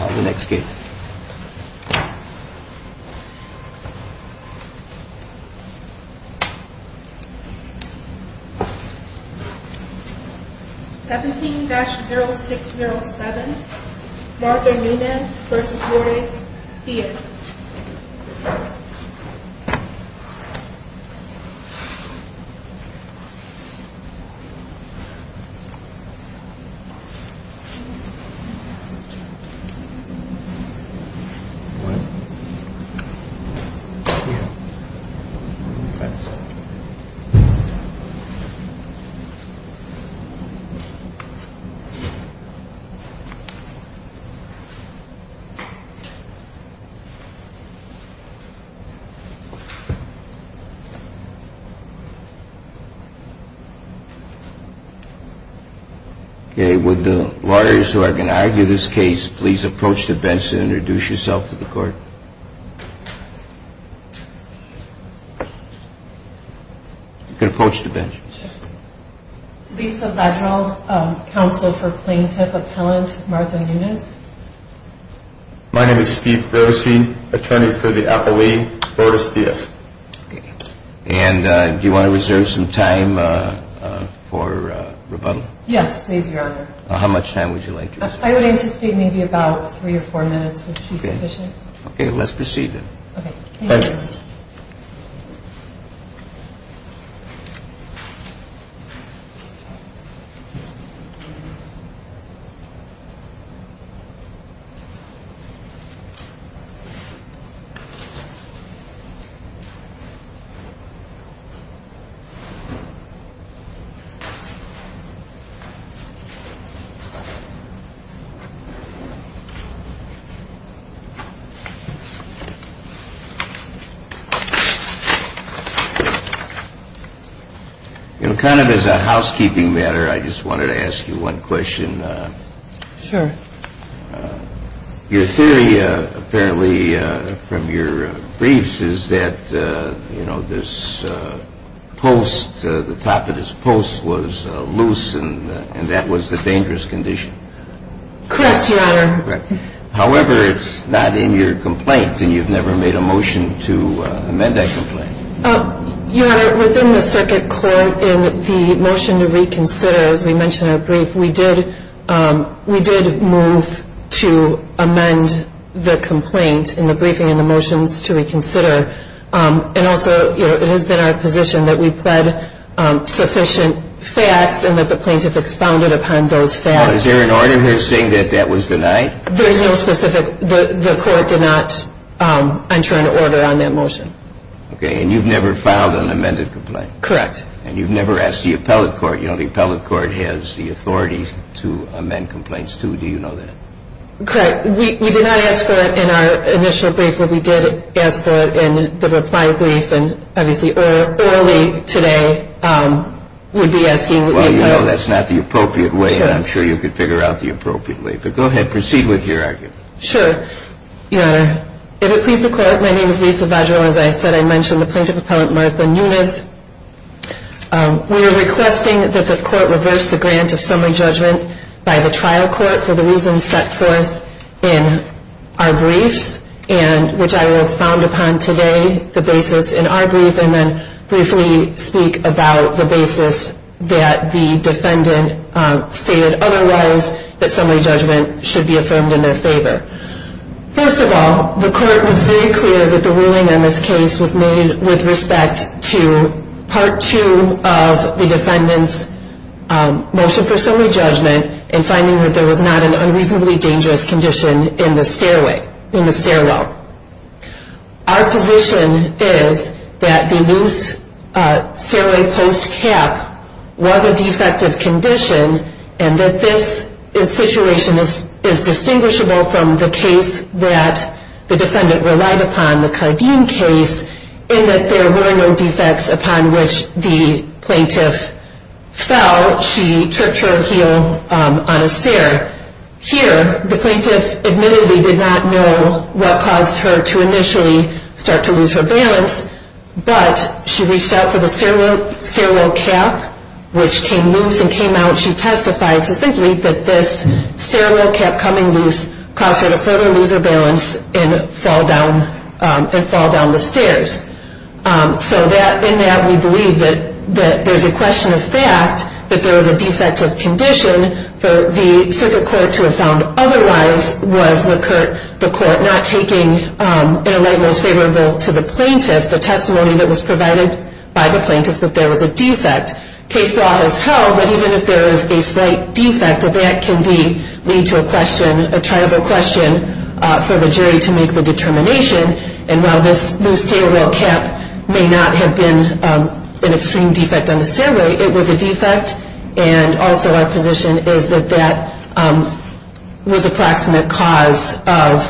On the next gate. 17-0607, Martha Nunez versus Jorge Diaz. One, two, three, four, five, six. Okay, with the lawyers who are going to argue this case, please approach the bench and introduce yourself to the court. You can approach the bench. Lisa Vedral, Counsel for Plaintiff Appellant Martha Nunez. My name is Steve Beresey, Attorney for the Appellee Boris Diaz. And do you want to reserve some time for rebuttal? Yes, please, Your Honor. How much time would you like to reserve? I would anticipate maybe about three or four minutes would be sufficient. Okay, let's proceed then. Thank you, Your Honor. You know, kind of as a housekeeping matter, I just wanted to ask you one question. Sure. Your theory apparently from your briefs is that, you know, this post, the top of this post was loose and that was the dangerous condition. Correct, Your Honor. However, it's not in your complaint, and you've never made a motion to amend that complaint. Your Honor, within the circuit court, in the motion to reconsider, as we mentioned in our brief, we did move to amend the complaint in the briefing and the motions to reconsider. And also, you know, it has been our position that we've had sufficient facts and that the plaintiff expounded upon those facts. Is there an order here saying that that was denied? There is no specific. The court did not enter an order on that motion. Okay, and you've never filed an amended complaint. Correct. And you've never asked the appellate court. You know, the appellate court has the authority to amend complaints, too. Do you know that? Correct. We did not ask for it in our initial brief, but we did ask for it in the reply brief, and obviously early today we'd be asking the appellate court. Well, you know, that's not the appropriate way, and I'm sure you could figure out the appropriate way. But go ahead. Proceed with your argument. Sure. Your Honor, if it pleases the court, my name is Lisa Vajero. As I said, I mentioned the plaintiff appellant Martha Nunes. We are requesting that the court reverse the grant of summary judgment by the trial court for the reasons set forth in our briefs, which I will expound upon today, the basis in our brief, and then briefly speak about the basis that the defendant stated otherwise, that summary judgment should be affirmed in their favor. First of all, the court was very clear that the ruling in this case was made with respect to Part 2 of the defendant's motion for summary judgment and finding that there was not an unreasonably dangerous condition in the stairwell. Our position is that the loose stairway post cap was a defective condition and that this situation is distinguishable from the case that the defendant relied upon, the Cardeen case, in that there were no defects upon which the plaintiff fell. She tripped her heel on a stair. Here, the plaintiff admittedly did not know what caused her to initially start to lose her balance, but she reached out for the stairwell cap, which came loose and came out. She testified succinctly that this stairwell cap coming loose caused her to further lose her balance and fall down the stairs. So in that, we believe that there's a question of fact that there was a defective condition for the circuit court to have found otherwise was the court not taking in a way most favorable to the plaintiff, the testimony that was provided by the plaintiff that there was a defect. Case law has held that even if there is a slight defect, that can lead to a question, a triable question, for the jury to make the determination. And while this stairwell cap may not have been an extreme defect on the stairway, it was a defect. And also our position is that that was a proximate cause of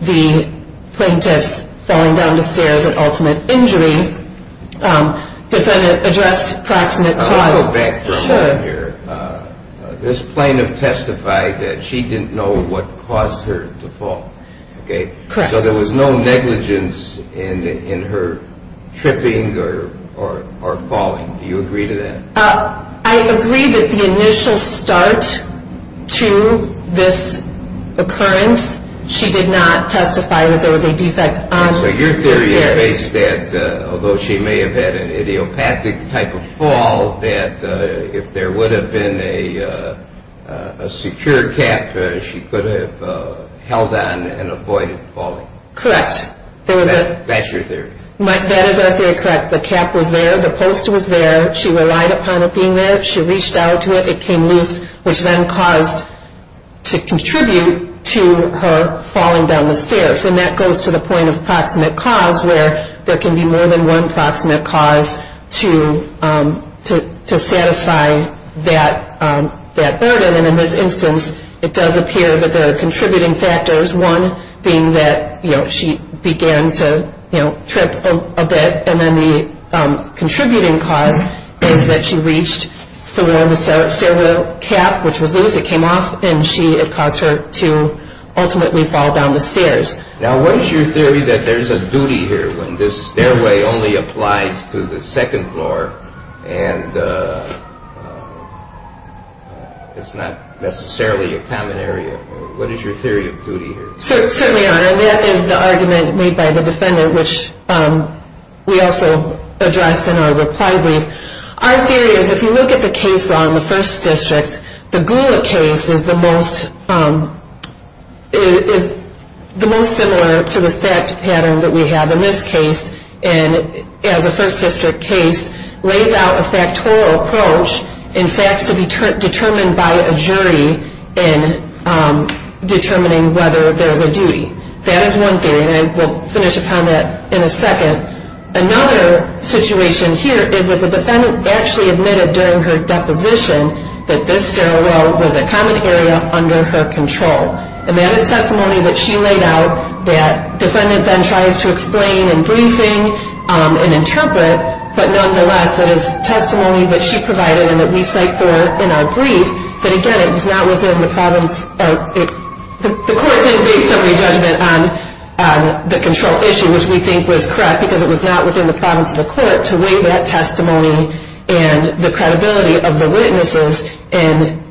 the plaintiff's falling down the stairs, an ultimate injury. Defendant addressed proximate cause. Sure. This plaintiff testified that she didn't know what caused her to fall. Correct. So there was no negligence in her tripping or falling. Do you agree to that? I agree that the initial start to this occurrence, she did not testify that there was a defect on the stairs. So your theory is that although she may have had an idiopathic type of fall, if there would have been a secure cap, she could have held on and avoided falling. Correct. That's your theory. That is our theory. Correct. The cap was there. The post was there. She relied upon it being there. She reached out to it. It came loose, which then caused to contribute to her falling down the stairs. And that goes to the point of proximate cause, where there can be more than one proximate cause to satisfy that burden. And in this instance, it does appear that there are contributing factors, one being that she began to trip a bit. And then the contributing cause is that she reached for the stairwell cap, which was loose. It came off, and it caused her to ultimately fall down the stairs. Now, what is your theory that there's a duty here when this stairway only applies to the second floor and it's not necessarily a common area? What is your theory of duty here? Certainly, Your Honor, that is the argument made by the defendant, which we also addressed in our reply brief. Our theory is if you look at the case law in the first district, the Gula case is the most similar to the fact pattern that we have in this case. And as a first district case, lays out a factorial approach in facts to be determined by a jury in determining whether there's a duty. That is one theory, and we'll finish upon that in a second. Another situation here is that the defendant actually admitted during her deposition that this stairwell was a common area under her control. And that is testimony that she laid out that defendant then tries to explain in briefing and interpret. But nonetheless, that is testimony that she provided and that we cite for in our brief. But again, it was not within the province of the court to make some re-judgment on the control issue, which we think was correct, because it was not within the province of the court to weigh that testimony and the credibility of the witnesses and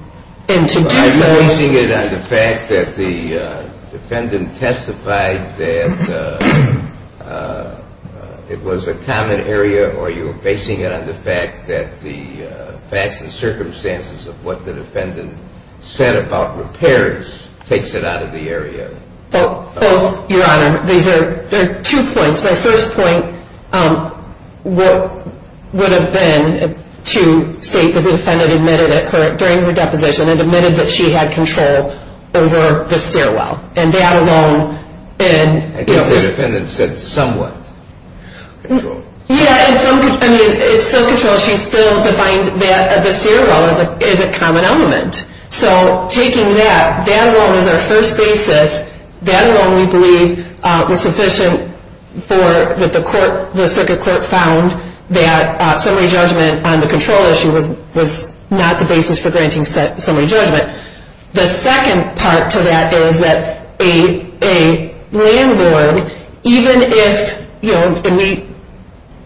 to do so. Are you basing it on the fact that the defendant testified that it was a common area, or are you basing it on the fact that the facts and circumstances of what the defendant said about repairs takes it out of the area? Both, Your Honor. These are two points. My first point would have been to state that the defendant admitted it during her deposition, and admitted that she had control over the stairwell, and that alone. I think the defendant said somewhat. Yeah, it's still control. She still defined that the stairwell is a common element. So taking that, that alone is our first basis. That alone we believe was sufficient for what the circuit court found, that summary judgment on the control issue was not the basis for granting summary judgment. The second part to that is that a landlord, even if, you know, and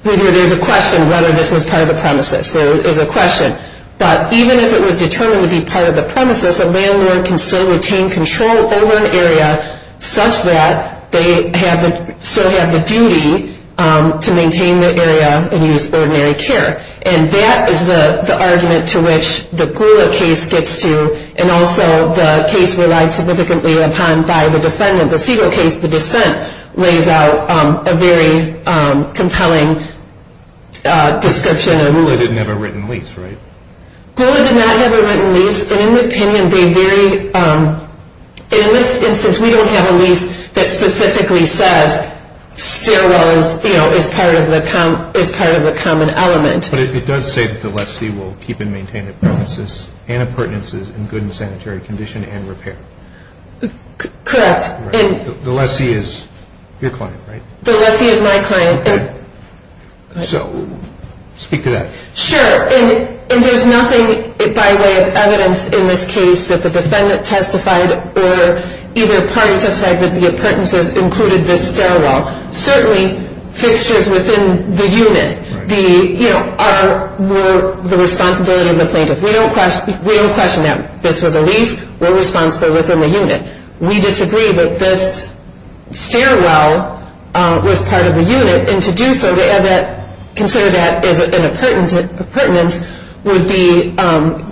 there's a question whether this was part of the premises, there is a question. But even if it was determined to be part of the premises, a landlord can still retain control over an area such that they still have the duty to maintain the area and use ordinary care. And that is the argument to which the Gula case gets to, and also the case relied significantly upon by the defendant, the Segal case, the dissent lays out a very compelling description. Gula didn't have a written lease, right? Gula did not have a written lease. And in the opinion, they very, in this instance, we don't have a lease that specifically says stairwell is part of the common element. But it does say that the lessee will keep and maintain the premises and appurtenances in good and sanitary condition and repair. Correct. The lessee is your client, right? The lessee is my client. Okay. So speak to that. Sure. And there's nothing by way of evidence in this case that the defendant testified or either party testified that the appurtenances included this stairwell. Certainly, fixtures within the unit were the responsibility of the plaintiff. We don't question that this was a lease. We're responsible within the unit. We disagree that this stairwell was part of the unit. And to do so, to consider that as an appurtenance would be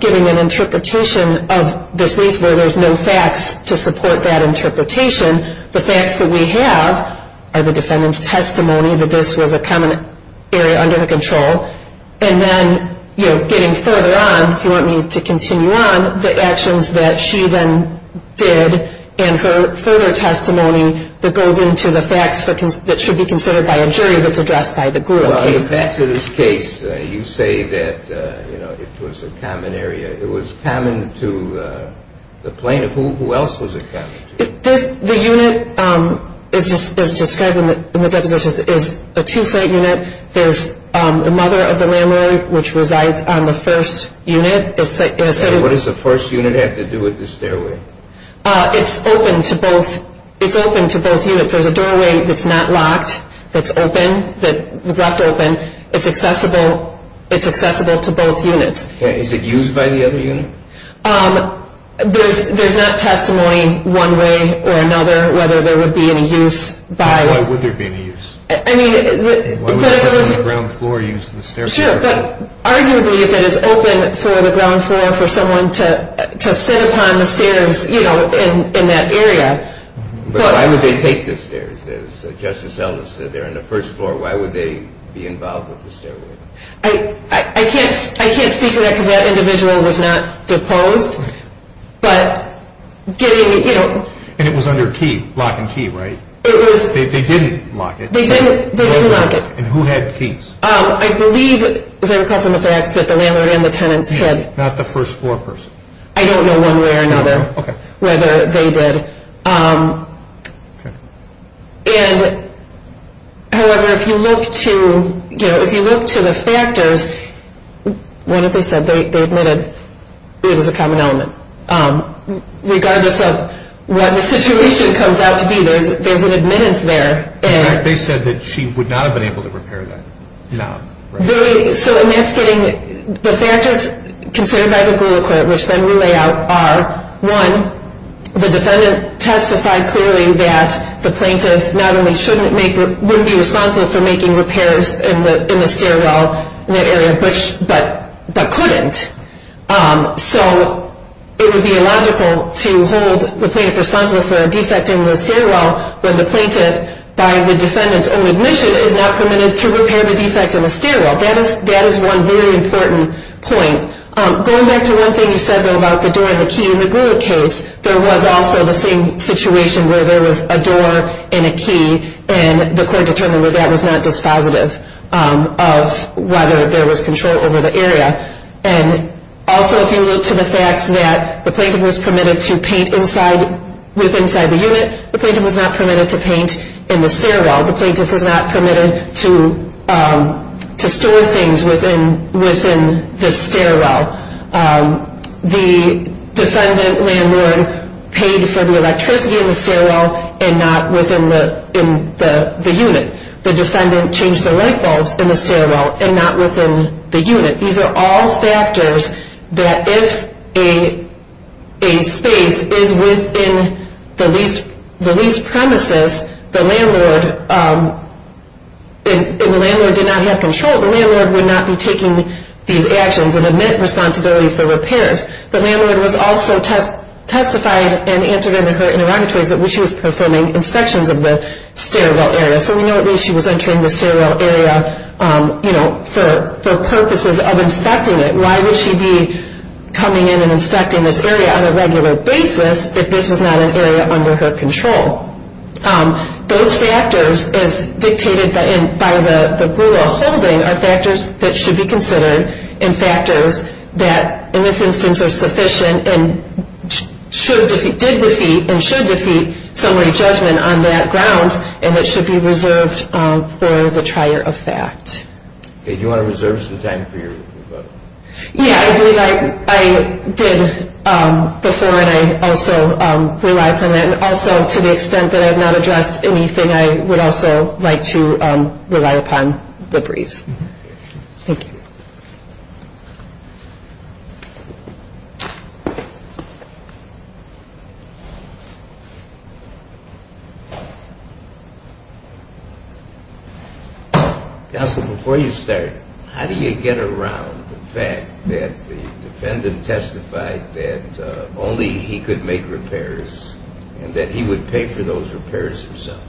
giving an interpretation of this lease where there's no facts to support that interpretation. The facts that we have are the defendant's testimony that this was a common area under control. And then, you know, getting further on, if you want me to continue on, the actions that she then did and her further testimony that goes into the facts that should be considered by a jury that's addressed by the gruel case. Well, in the facts of this case, you say that, you know, it was a common area. It was common to the plaintiff. Who else was it common to? The unit as described in the depositions is a two-flight unit. There's the mother of the landlord, which resides on the first unit. What does the first unit have to do with the stairway? It's open to both. It's open to both units. If there's a doorway that's not locked, that's open, that was left open, it's accessible. It's accessible to both units. Is it used by the other unit? There's not testimony one way or another whether there would be any use by... Why would there be any use? I mean... Why would someone on the ground floor use the stairway? Sure, but arguably, if it is open for the ground floor for someone to sit upon the stairs, you know, in that area. But why would they take the stairs? As Justice Ellis said, they're on the first floor. Why would they be involved with the stairway? I can't speak to that because that individual was not deposed, but getting, you know... And it was under lock and key, right? It was... They didn't lock it. They didn't lock it. And who had keys? I believe, as I recall from the facts, that the landlord and the tenants had... Not the first floor person? I don't know one way or another whether they did. Okay. And, however, if you look to, you know... If you look to the factors... What did they say? They admitted it was a common element. Regardless of what the situation comes out to be, there's an admittance there. In fact, they said that she would not have been able to repair that. Very... So, and that's getting... The factors considered by the Gula Court, which then we lay out, are... One, the defendant testified clearly that the plaintiff not only shouldn't make... Wouldn't be responsible for making repairs in the stairwell in the area, but couldn't. So, it would be illogical to hold the plaintiff responsible for a defect in the stairwell when the plaintiff, by the defendant's own admission, is not permitted to repair the defect in the stairwell. That is one very important point. Going back to one thing you said, though, about the door and the key. In the Gula case, there was also the same situation where there was a door and a key. And the court determined that that was not dispositive of whether there was control over the area. And, also, if you look to the facts that the plaintiff was permitted to paint inside... With inside the unit, the plaintiff was not permitted to paint in the stairwell. The plaintiff was not permitted to store things within the stairwell. The defendant landlord paid for the electricity in the stairwell and not within the unit. The defendant changed the light bulbs in the stairwell and not within the unit. These are all factors that if a space is within the leased premises, the landlord did not have control. The landlord would not be taking these actions and admit responsibility for repairs. The landlord was also testified and answered in her interrogatories that she was performing inspections of the stairwell area. So we know that she was entering the stairwell area for purposes of inspecting it. Why would she be coming in and inspecting this area on a regular basis if this was not an area under her control? Those factors, as dictated by the Gula holding, are factors that should be considered. And factors that, in this instance, are sufficient and did defeat and should defeat summary judgment on that grounds. And it should be reserved for the trier of fact. Do you want to reserve some time for your rebuttal? Yeah, I believe I did before and I also rely upon that. And also, to the extent that I have not addressed anything, I would also like to rely upon the briefs. Thank you. Counsel, before you start, how do you get around the fact that the defendant testified that only he could make repairs and that he would pay for those repairs himself?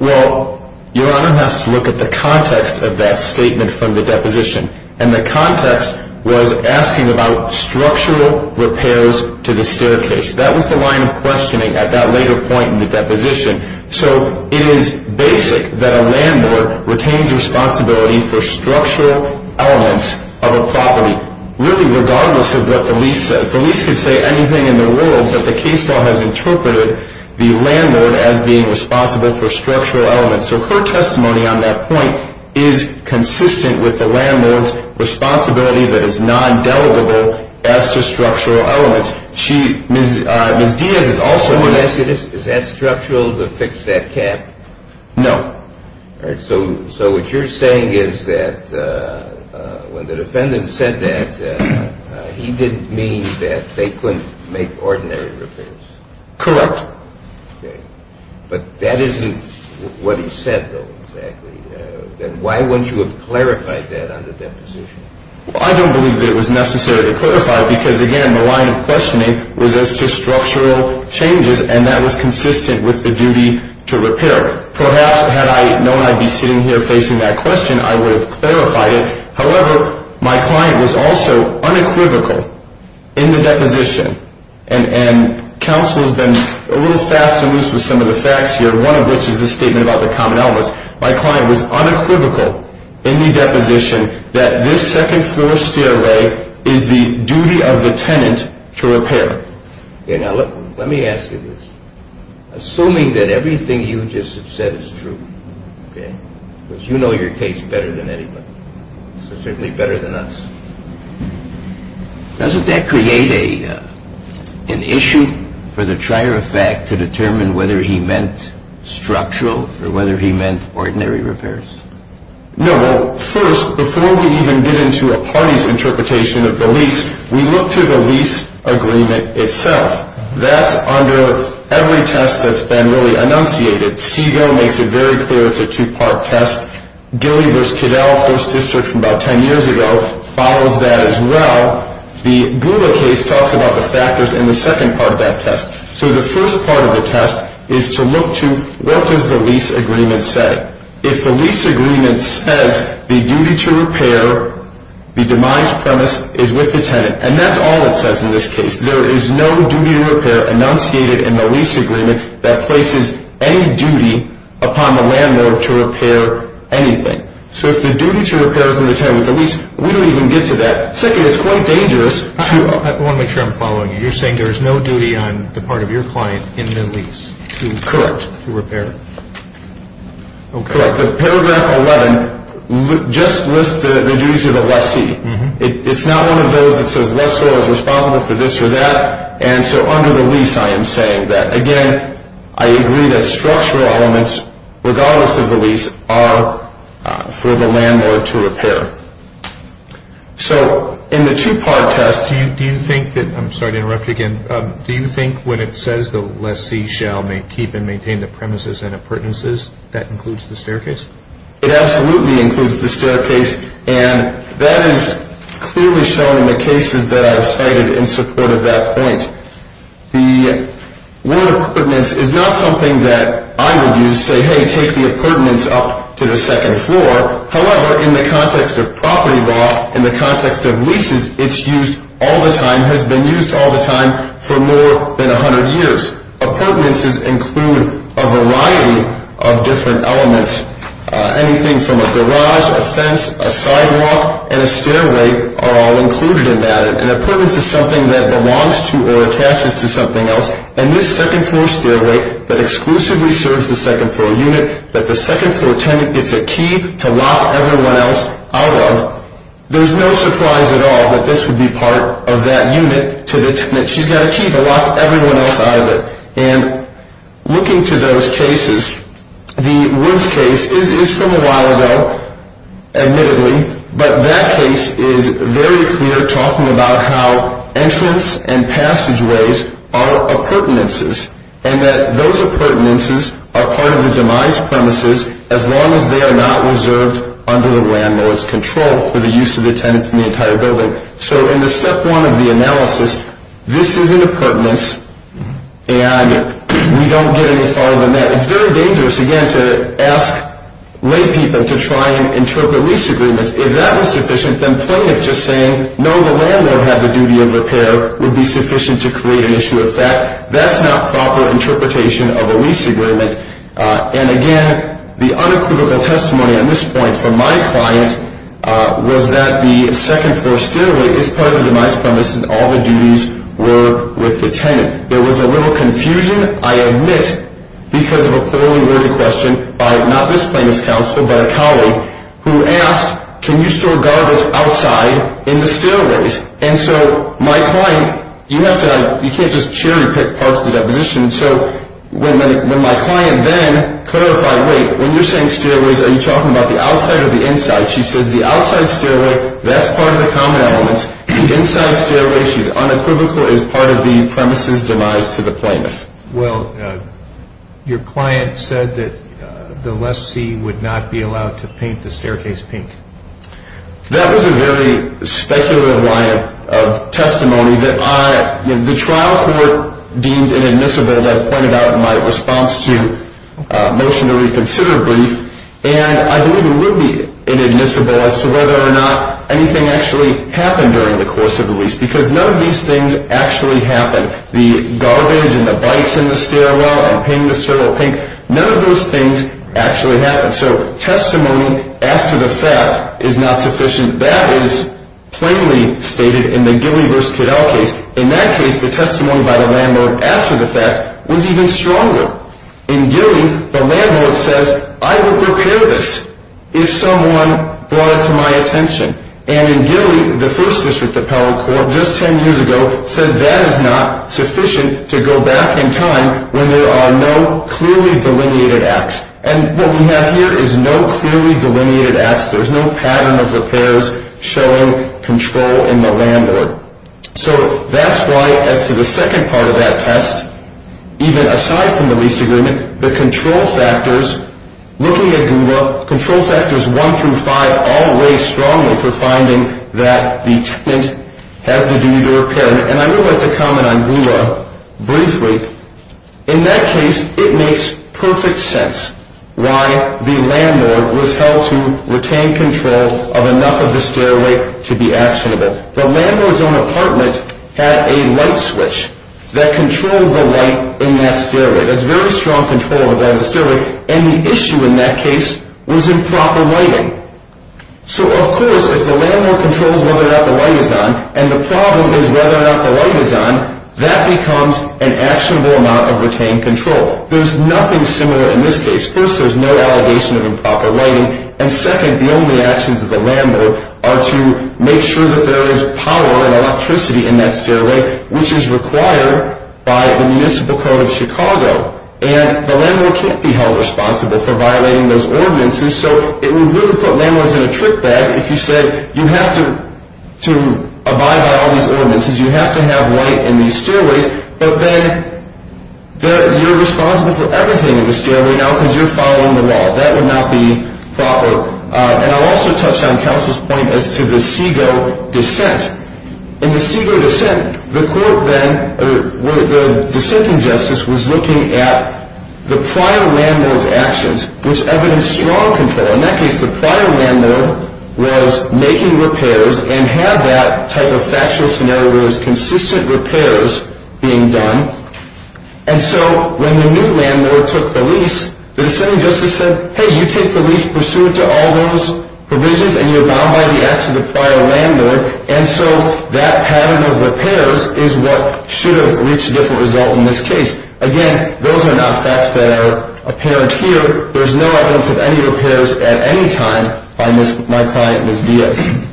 Well, Your Honor, let's look at the context of that statement from the deposition. And the context was asking about structural repairs to the staircase. That was the line of questioning at that later point in the deposition. So it is basic that a landlord retains responsibility for structural elements of a property, really regardless of what the lease says. The lease could say anything in the world, but the case law has interpreted the landlord as being responsible for structural elements. So her testimony on that point is consistent with the landlord's responsibility that is non-delegable as to structural elements. Is that structural to fix that gap? No. So what you're saying is that when the defendant said that, he didn't mean that they couldn't make ordinary repairs? Correct. But that isn't what he said, though, exactly. Then why wouldn't you have clarified that on the deposition? I don't believe that it was necessary to clarify because, again, the line of questioning was as to structural changes, and that was consistent with the duty to repair. Perhaps had I known I'd be sitting here facing that question, I would have clarified it. However, my client was also unequivocal in the deposition, and counsel has been a little fast and loose with some of the facts here, one of which is the statement about the common elements. My client was unequivocal in the deposition that this second-floor stairway is the duty of the tenant to repair. Now, let me ask you this. Assuming that everything you just have said is true, because you know your case better than anybody, so certainly better than us, doesn't that create an issue for the trier of fact to determine whether he meant structural or whether he meant ordinary repairs? No. First, before we even get into a party's interpretation of the lease, we look to the lease agreement itself. That's under every test that's been really enunciated. C, though, makes it very clear it's a two-part test. Gilly v. Cadell, First District from about 10 years ago, follows that as well. The Gula case talks about the factors in the second part of that test. So the first part of the test is to look to what does the lease agreement say. If the lease agreement says the duty to repair, the demise premise is with the tenant, and that's all it says in this case. There is no duty to repair enunciated in the lease agreement that places any duty upon the landlord to repair anything. So if the duty to repair is in the tenant with the lease, we don't even get to that. Second, it's quite dangerous to – I want to make sure I'm following you. You're saying there's no duty on the part of your client in the lease to repair? Correct. The paragraph 11 just lists the duties of the lessee. It's not one of those that says lessor is responsible for this or that, and so under the lease I am saying that. Again, I agree that structural elements, regardless of the lease, are for the landlord to repair. So in the two-part test – Do you think that – I'm sorry to interrupt you again. Do you think when it says the lessee shall keep and maintain the premises and appurtenances, that includes the staircase? It absolutely includes the staircase. And that is clearly shown in the cases that I've cited in support of that point. The word appurtenance is not something that I would use, say, hey, take the appurtenance up to the second floor. However, in the context of property law, in the context of leases, it's used all the time, has been used all the time for more than 100 years. Appurtenances include a variety of different elements. Anything from a garage, a fence, a sidewalk, and a stairway are all included in that. An appurtenance is something that belongs to or attaches to something else. And this second-floor stairway that exclusively serves the second-floor unit that the second-floor tenant gets a key to lock everyone else out of, there's no surprise at all that this would be part of that unit to the tenant. She's got a key to lock everyone else out of it. And looking to those cases, the Woods case is from a while ago, admittedly, but that case is very clear talking about how entrance and passageways are appurtenances and that those appurtenances are part of the demise premises as long as they are not reserved under the landlord's control for the use of the tenants in the entire building. So in the step one of the analysis, this is an appurtenance, and we don't get any farther than that. It's very dangerous, again, to ask laypeople to try and interpret lease agreements. If that was sufficient, then plaintiffs just saying, no, the landlord had the duty of repair, would be sufficient to create an issue of fact. That's not proper interpretation of a lease agreement. And again, the unequivocal testimony on this point from my client was that the second-floor stairway is part of the demise premises and all the duties were with the tenant. There was a little confusion, I admit, because of a poorly worded question by not this plaintiff's counsel, but a colleague, who asked, can you store garbage outside in the stairways? And so my client, you can't just cherry-pick parts of the deposition. So when my client then clarified, wait, when you're saying stairways, are you talking about the outside or the inside? She says the outside stairway, that's part of the common elements. The inside stairway, she's unequivocal, is part of the premises' demise to the plaintiff. Well, your client said that the lessee would not be allowed to paint the staircase pink. That was a very speculative line of testimony. The trial court deemed inadmissible, as I pointed out in my response to Motion to Reconsider brief, and I believe it would be inadmissible as to whether or not anything actually happened during the course of the lease, because none of these things actually happened. The garbage and the bikes in the stairwell and painting the stairway pink, none of those things actually happened. So testimony after the fact is not sufficient. That is plainly stated in the Gilly v. Caddell case. In that case, the testimony by the landlord after the fact was even stronger. In Gilly, the landlord says, I will prepare this if someone brought it to my attention. And in Gilly, the first district appellate court just 10 years ago said that is not sufficient to go back in time when there are no clearly delineated acts. And what we have here is no clearly delineated acts. There is no pattern of repairs showing control in the landlord. So that is why as to the second part of that test, even aside from the lease agreement, the control factors, looking at Goula, control factors 1 through 5 all weigh strongly for finding that the tenant has the duty to repair. And I would like to comment on Goula briefly. In that case, it makes perfect sense why the landlord was held to retain control of enough of the stairway to be actionable. The landlord's own apartment had a light switch that controlled the light in that stairway. That is very strong control over that stairway. And the issue in that case was improper lighting. So of course, if the landlord controls whether or not the light is on, and the problem is whether or not the light is on, that becomes an actionable amount of retained control. There is nothing similar in this case. First, there is no allegation of improper lighting. And second, the only actions of the landlord are to make sure that there is power and electricity in that stairway, which is required by the Municipal Code of Chicago. And the landlord can't be held responsible for violating those ordinances. So it would really put landlords in a trick bag if you said, you have to abide by all these ordinances, you have to have light in these stairways, but then you're responsible for everything in the stairway now because you're following the law. That would not be proper. And I'll also touch on counsel's point as to the Segoe dissent. In the Segoe dissent, the court then, the dissenting justice, was looking at the prior landlord's actions, which evidenced strong control. In that case, the prior landlord was making repairs and had that type of factual scenario where there was consistent repairs being done. And so when the new landlord took the lease, the dissenting justice said, hey, you take the lease pursuant to all those provisions, and you're bound by the acts of the prior landlord. And so that pattern of repairs is what should have reached a different result in this case. Again, those are not facts that are apparent here. There's no evidence of any repairs at any time by my client, Ms. Diaz.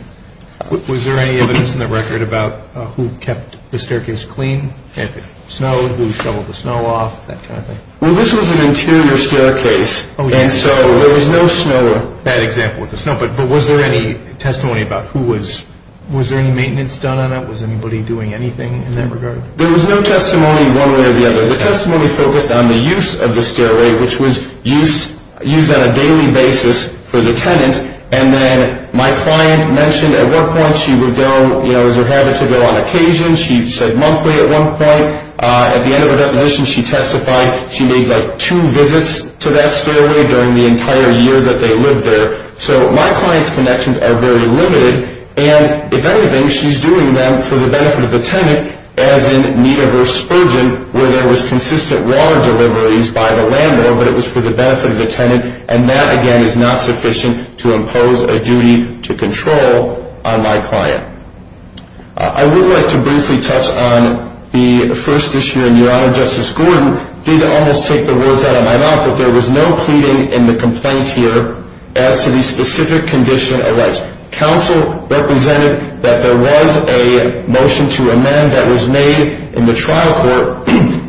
Was there any evidence in the record about who kept the staircase clean if it snowed, who shoveled the snow off, that kind of thing? Well, this was an interior staircase, and so there was no snow. Bad example with the snow. But was there any testimony about who was – was there any maintenance done on it? Was anybody doing anything in that regard? There was no testimony one way or the other. The testimony focused on the use of the stairway, which was used on a daily basis for the tenant. And then my client mentioned at what point she would go, you know, as her habit to go on occasion. She said monthly at one point. At the end of her deposition, she testified she made like two visits to that stairway during the entire year that they lived there. So my client's connections are very limited. And if anything, she's doing them for the benefit of the tenant, as in Nita versus Spurgeon, where there was consistent water deliveries by the landlord, but it was for the benefit of the tenant. And that, again, is not sufficient to impose a duty to control on my client. I would like to briefly touch on the first issue. And Your Honor, Justice Gordon did almost take the words out of my mouth, that there was no pleading in the complaint here as to the specific condition of rights. Counsel represented that there was a motion to amend that was made in the trial court.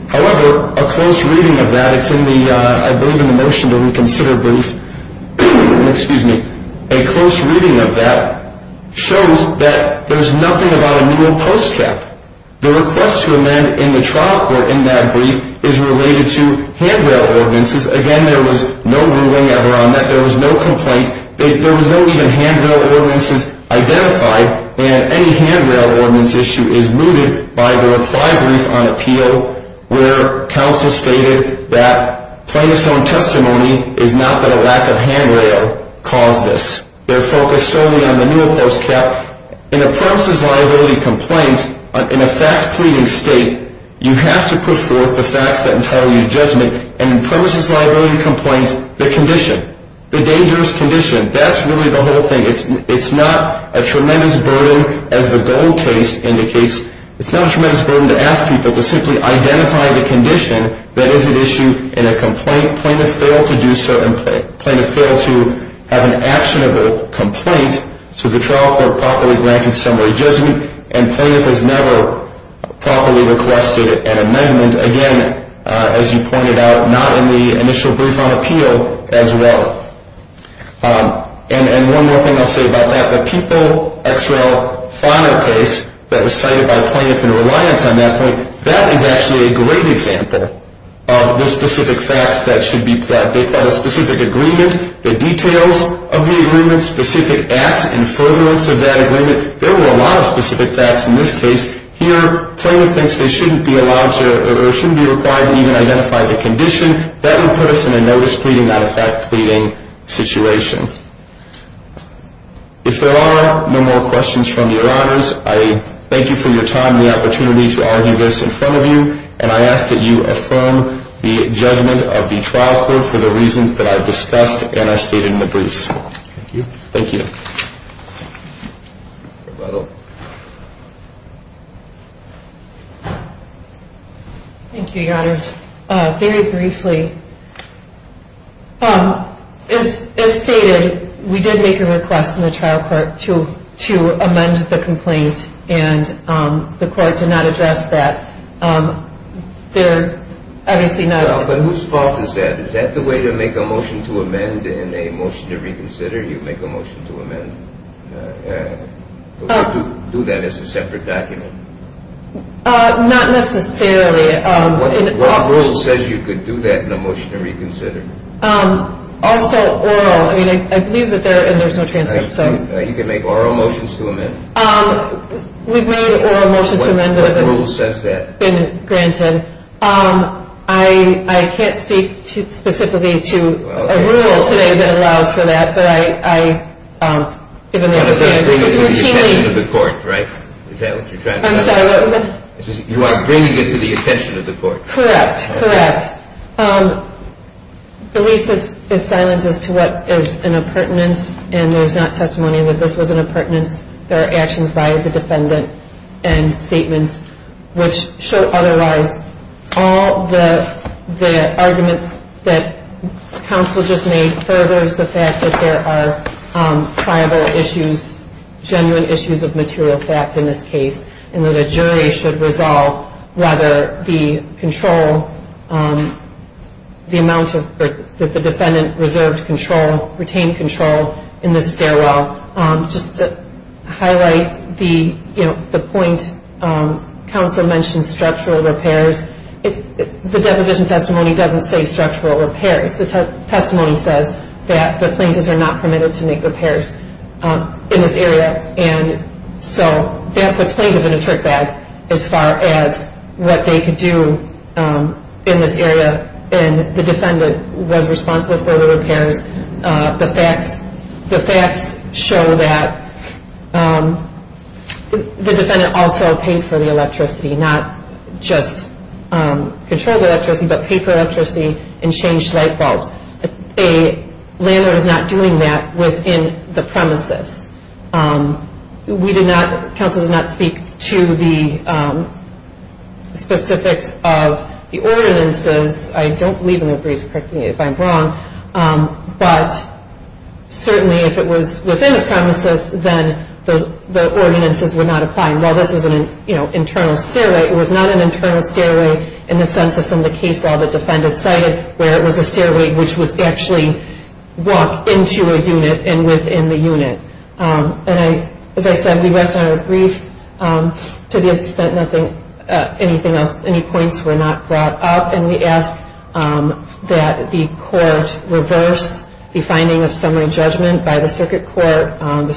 However, a close reading of that, it's in the, I believe in the motion to reconsider brief. Excuse me. A close reading of that shows that there's nothing about a new and post cap. The request to amend in the trial court in that brief is related to handrail ordinances. Again, there was no ruling ever on that. There was no complaint. There was no even handrail ordinances identified. And any handrail ordinance issue is mooted by the reply brief on appeal, where counsel stated that plaintiff's own testimony is not that a lack of handrail caused this. They're focused solely on the new and post cap. In a premises liability complaint, in a fact pleading state, you have to put forth the facts that entitle you to judgment. And in premises liability complaints, the condition, the dangerous condition, that's really the whole thing. It's not a tremendous burden, as the gold case indicates. It's not a tremendous burden to ask people to simply identify the condition that is an issue in a complaint. Plaintiff failed to do so. And plaintiff failed to have an actionable complaint. So the trial court properly granted summary judgment. And plaintiff has never properly requested an amendment. And, again, as you pointed out, not in the initial brief on appeal as well. And one more thing I'll say about that. The People X.R.L. final case that was cited by plaintiff in reliance on that point, that is actually a great example of the specific facts that should be put out. They've got a specific agreement, the details of the agreement, specific acts and furtherance of that agreement. There were a lot of specific facts in this case. Here, plaintiff thinks they shouldn't be allowed to or shouldn't be required to even identify the condition. That would put us in a notice pleading, not a fact pleading situation. If there are no more questions from your honors, I thank you for your time and the opportunity to argue this in front of you. And I ask that you affirm the judgment of the trial court for the reasons that I've discussed and I've stated in the briefs. Thank you. Thank you. Thank you, your honors. Very briefly, as stated, we did make a request in the trial court to amend the complaint and the court did not address that. They're obviously not- But whose fault is that? Is that the way to make a motion to amend in a motion to reconsider? You make a motion to amend. Do you do that as a separate document? Not necessarily. What rule says you could do that in a motion to reconsider? Also, oral. I mean, I believe that there's no transcript. You can make oral motions to amend? We've made oral motions to amend. What rule says that? I can't speak specifically to a rule today that allows for that, but I- You are bringing it to the attention of the court, right? Is that what you're trying to say? I'm sorry, what was that? You are bringing it to the attention of the court. Correct, correct. The lease is silent as to what is an appurtenance and there's not testimony that this was an appurtenance. There are actions by the defendant and statements which show otherwise. All the arguments that counsel just made furthers the fact that there are tribal issues, genuine issues of material fact in this case, and that a jury should resolve whether the control, the amount that the defendant reserved control, retained control in this stairwell. Just to highlight the point, counsel mentioned structural repairs. The deposition testimony doesn't say structural repairs. The testimony says that the plaintiffs are not permitted to make repairs in this area and so that puts plaintiff in a trick bag as far as what they could do in this area and the defendant was responsible for the repairs. The facts show that the defendant also paid for the electricity, not just controlled electricity, but paid for electricity and changed light bulbs. A landlord is not doing that within the premises. We did not, counsel did not speak to the specifics of the ordinances. I don't believe in the briefs, correct me if I'm wrong, but certainly if it was within a premises, then the ordinances would not apply. While this is an internal stairway, it was not an internal stairway in the sense of some of the case law the defendant cited where it was a stairway which was actually walked into a unit and within the unit. As I said, we rest on our briefs to the extent anything else, any points were not brought up and we ask that the court reverse the finding of summary judgment by the circuit court, the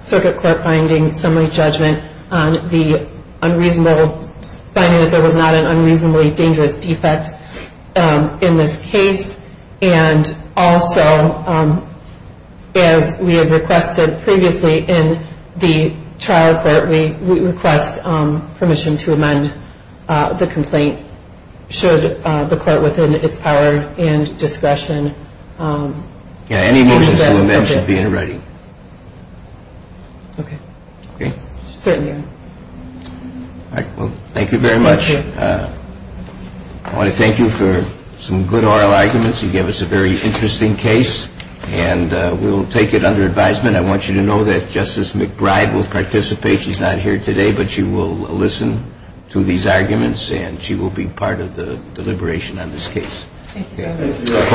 circuit court finding summary judgment on the unreasonable, finding that there was not an unreasonably dangerous defect in this case and also as we have requested previously in the trial court, we request permission to amend the complaint should the court within its power and discretion. Any motions to amend should be in writing. Okay. Okay. Certainly. All right. Well, thank you very much. Thank you. I want to thank you for some good oral arguments. You gave us a very interesting case and we will take it under advisement. I want you to know that Justice McBride will participate. She's not here today, but she will listen to these arguments and she will be part of the deliberation on this case. Thank you, Your Honor. Court is adjourned.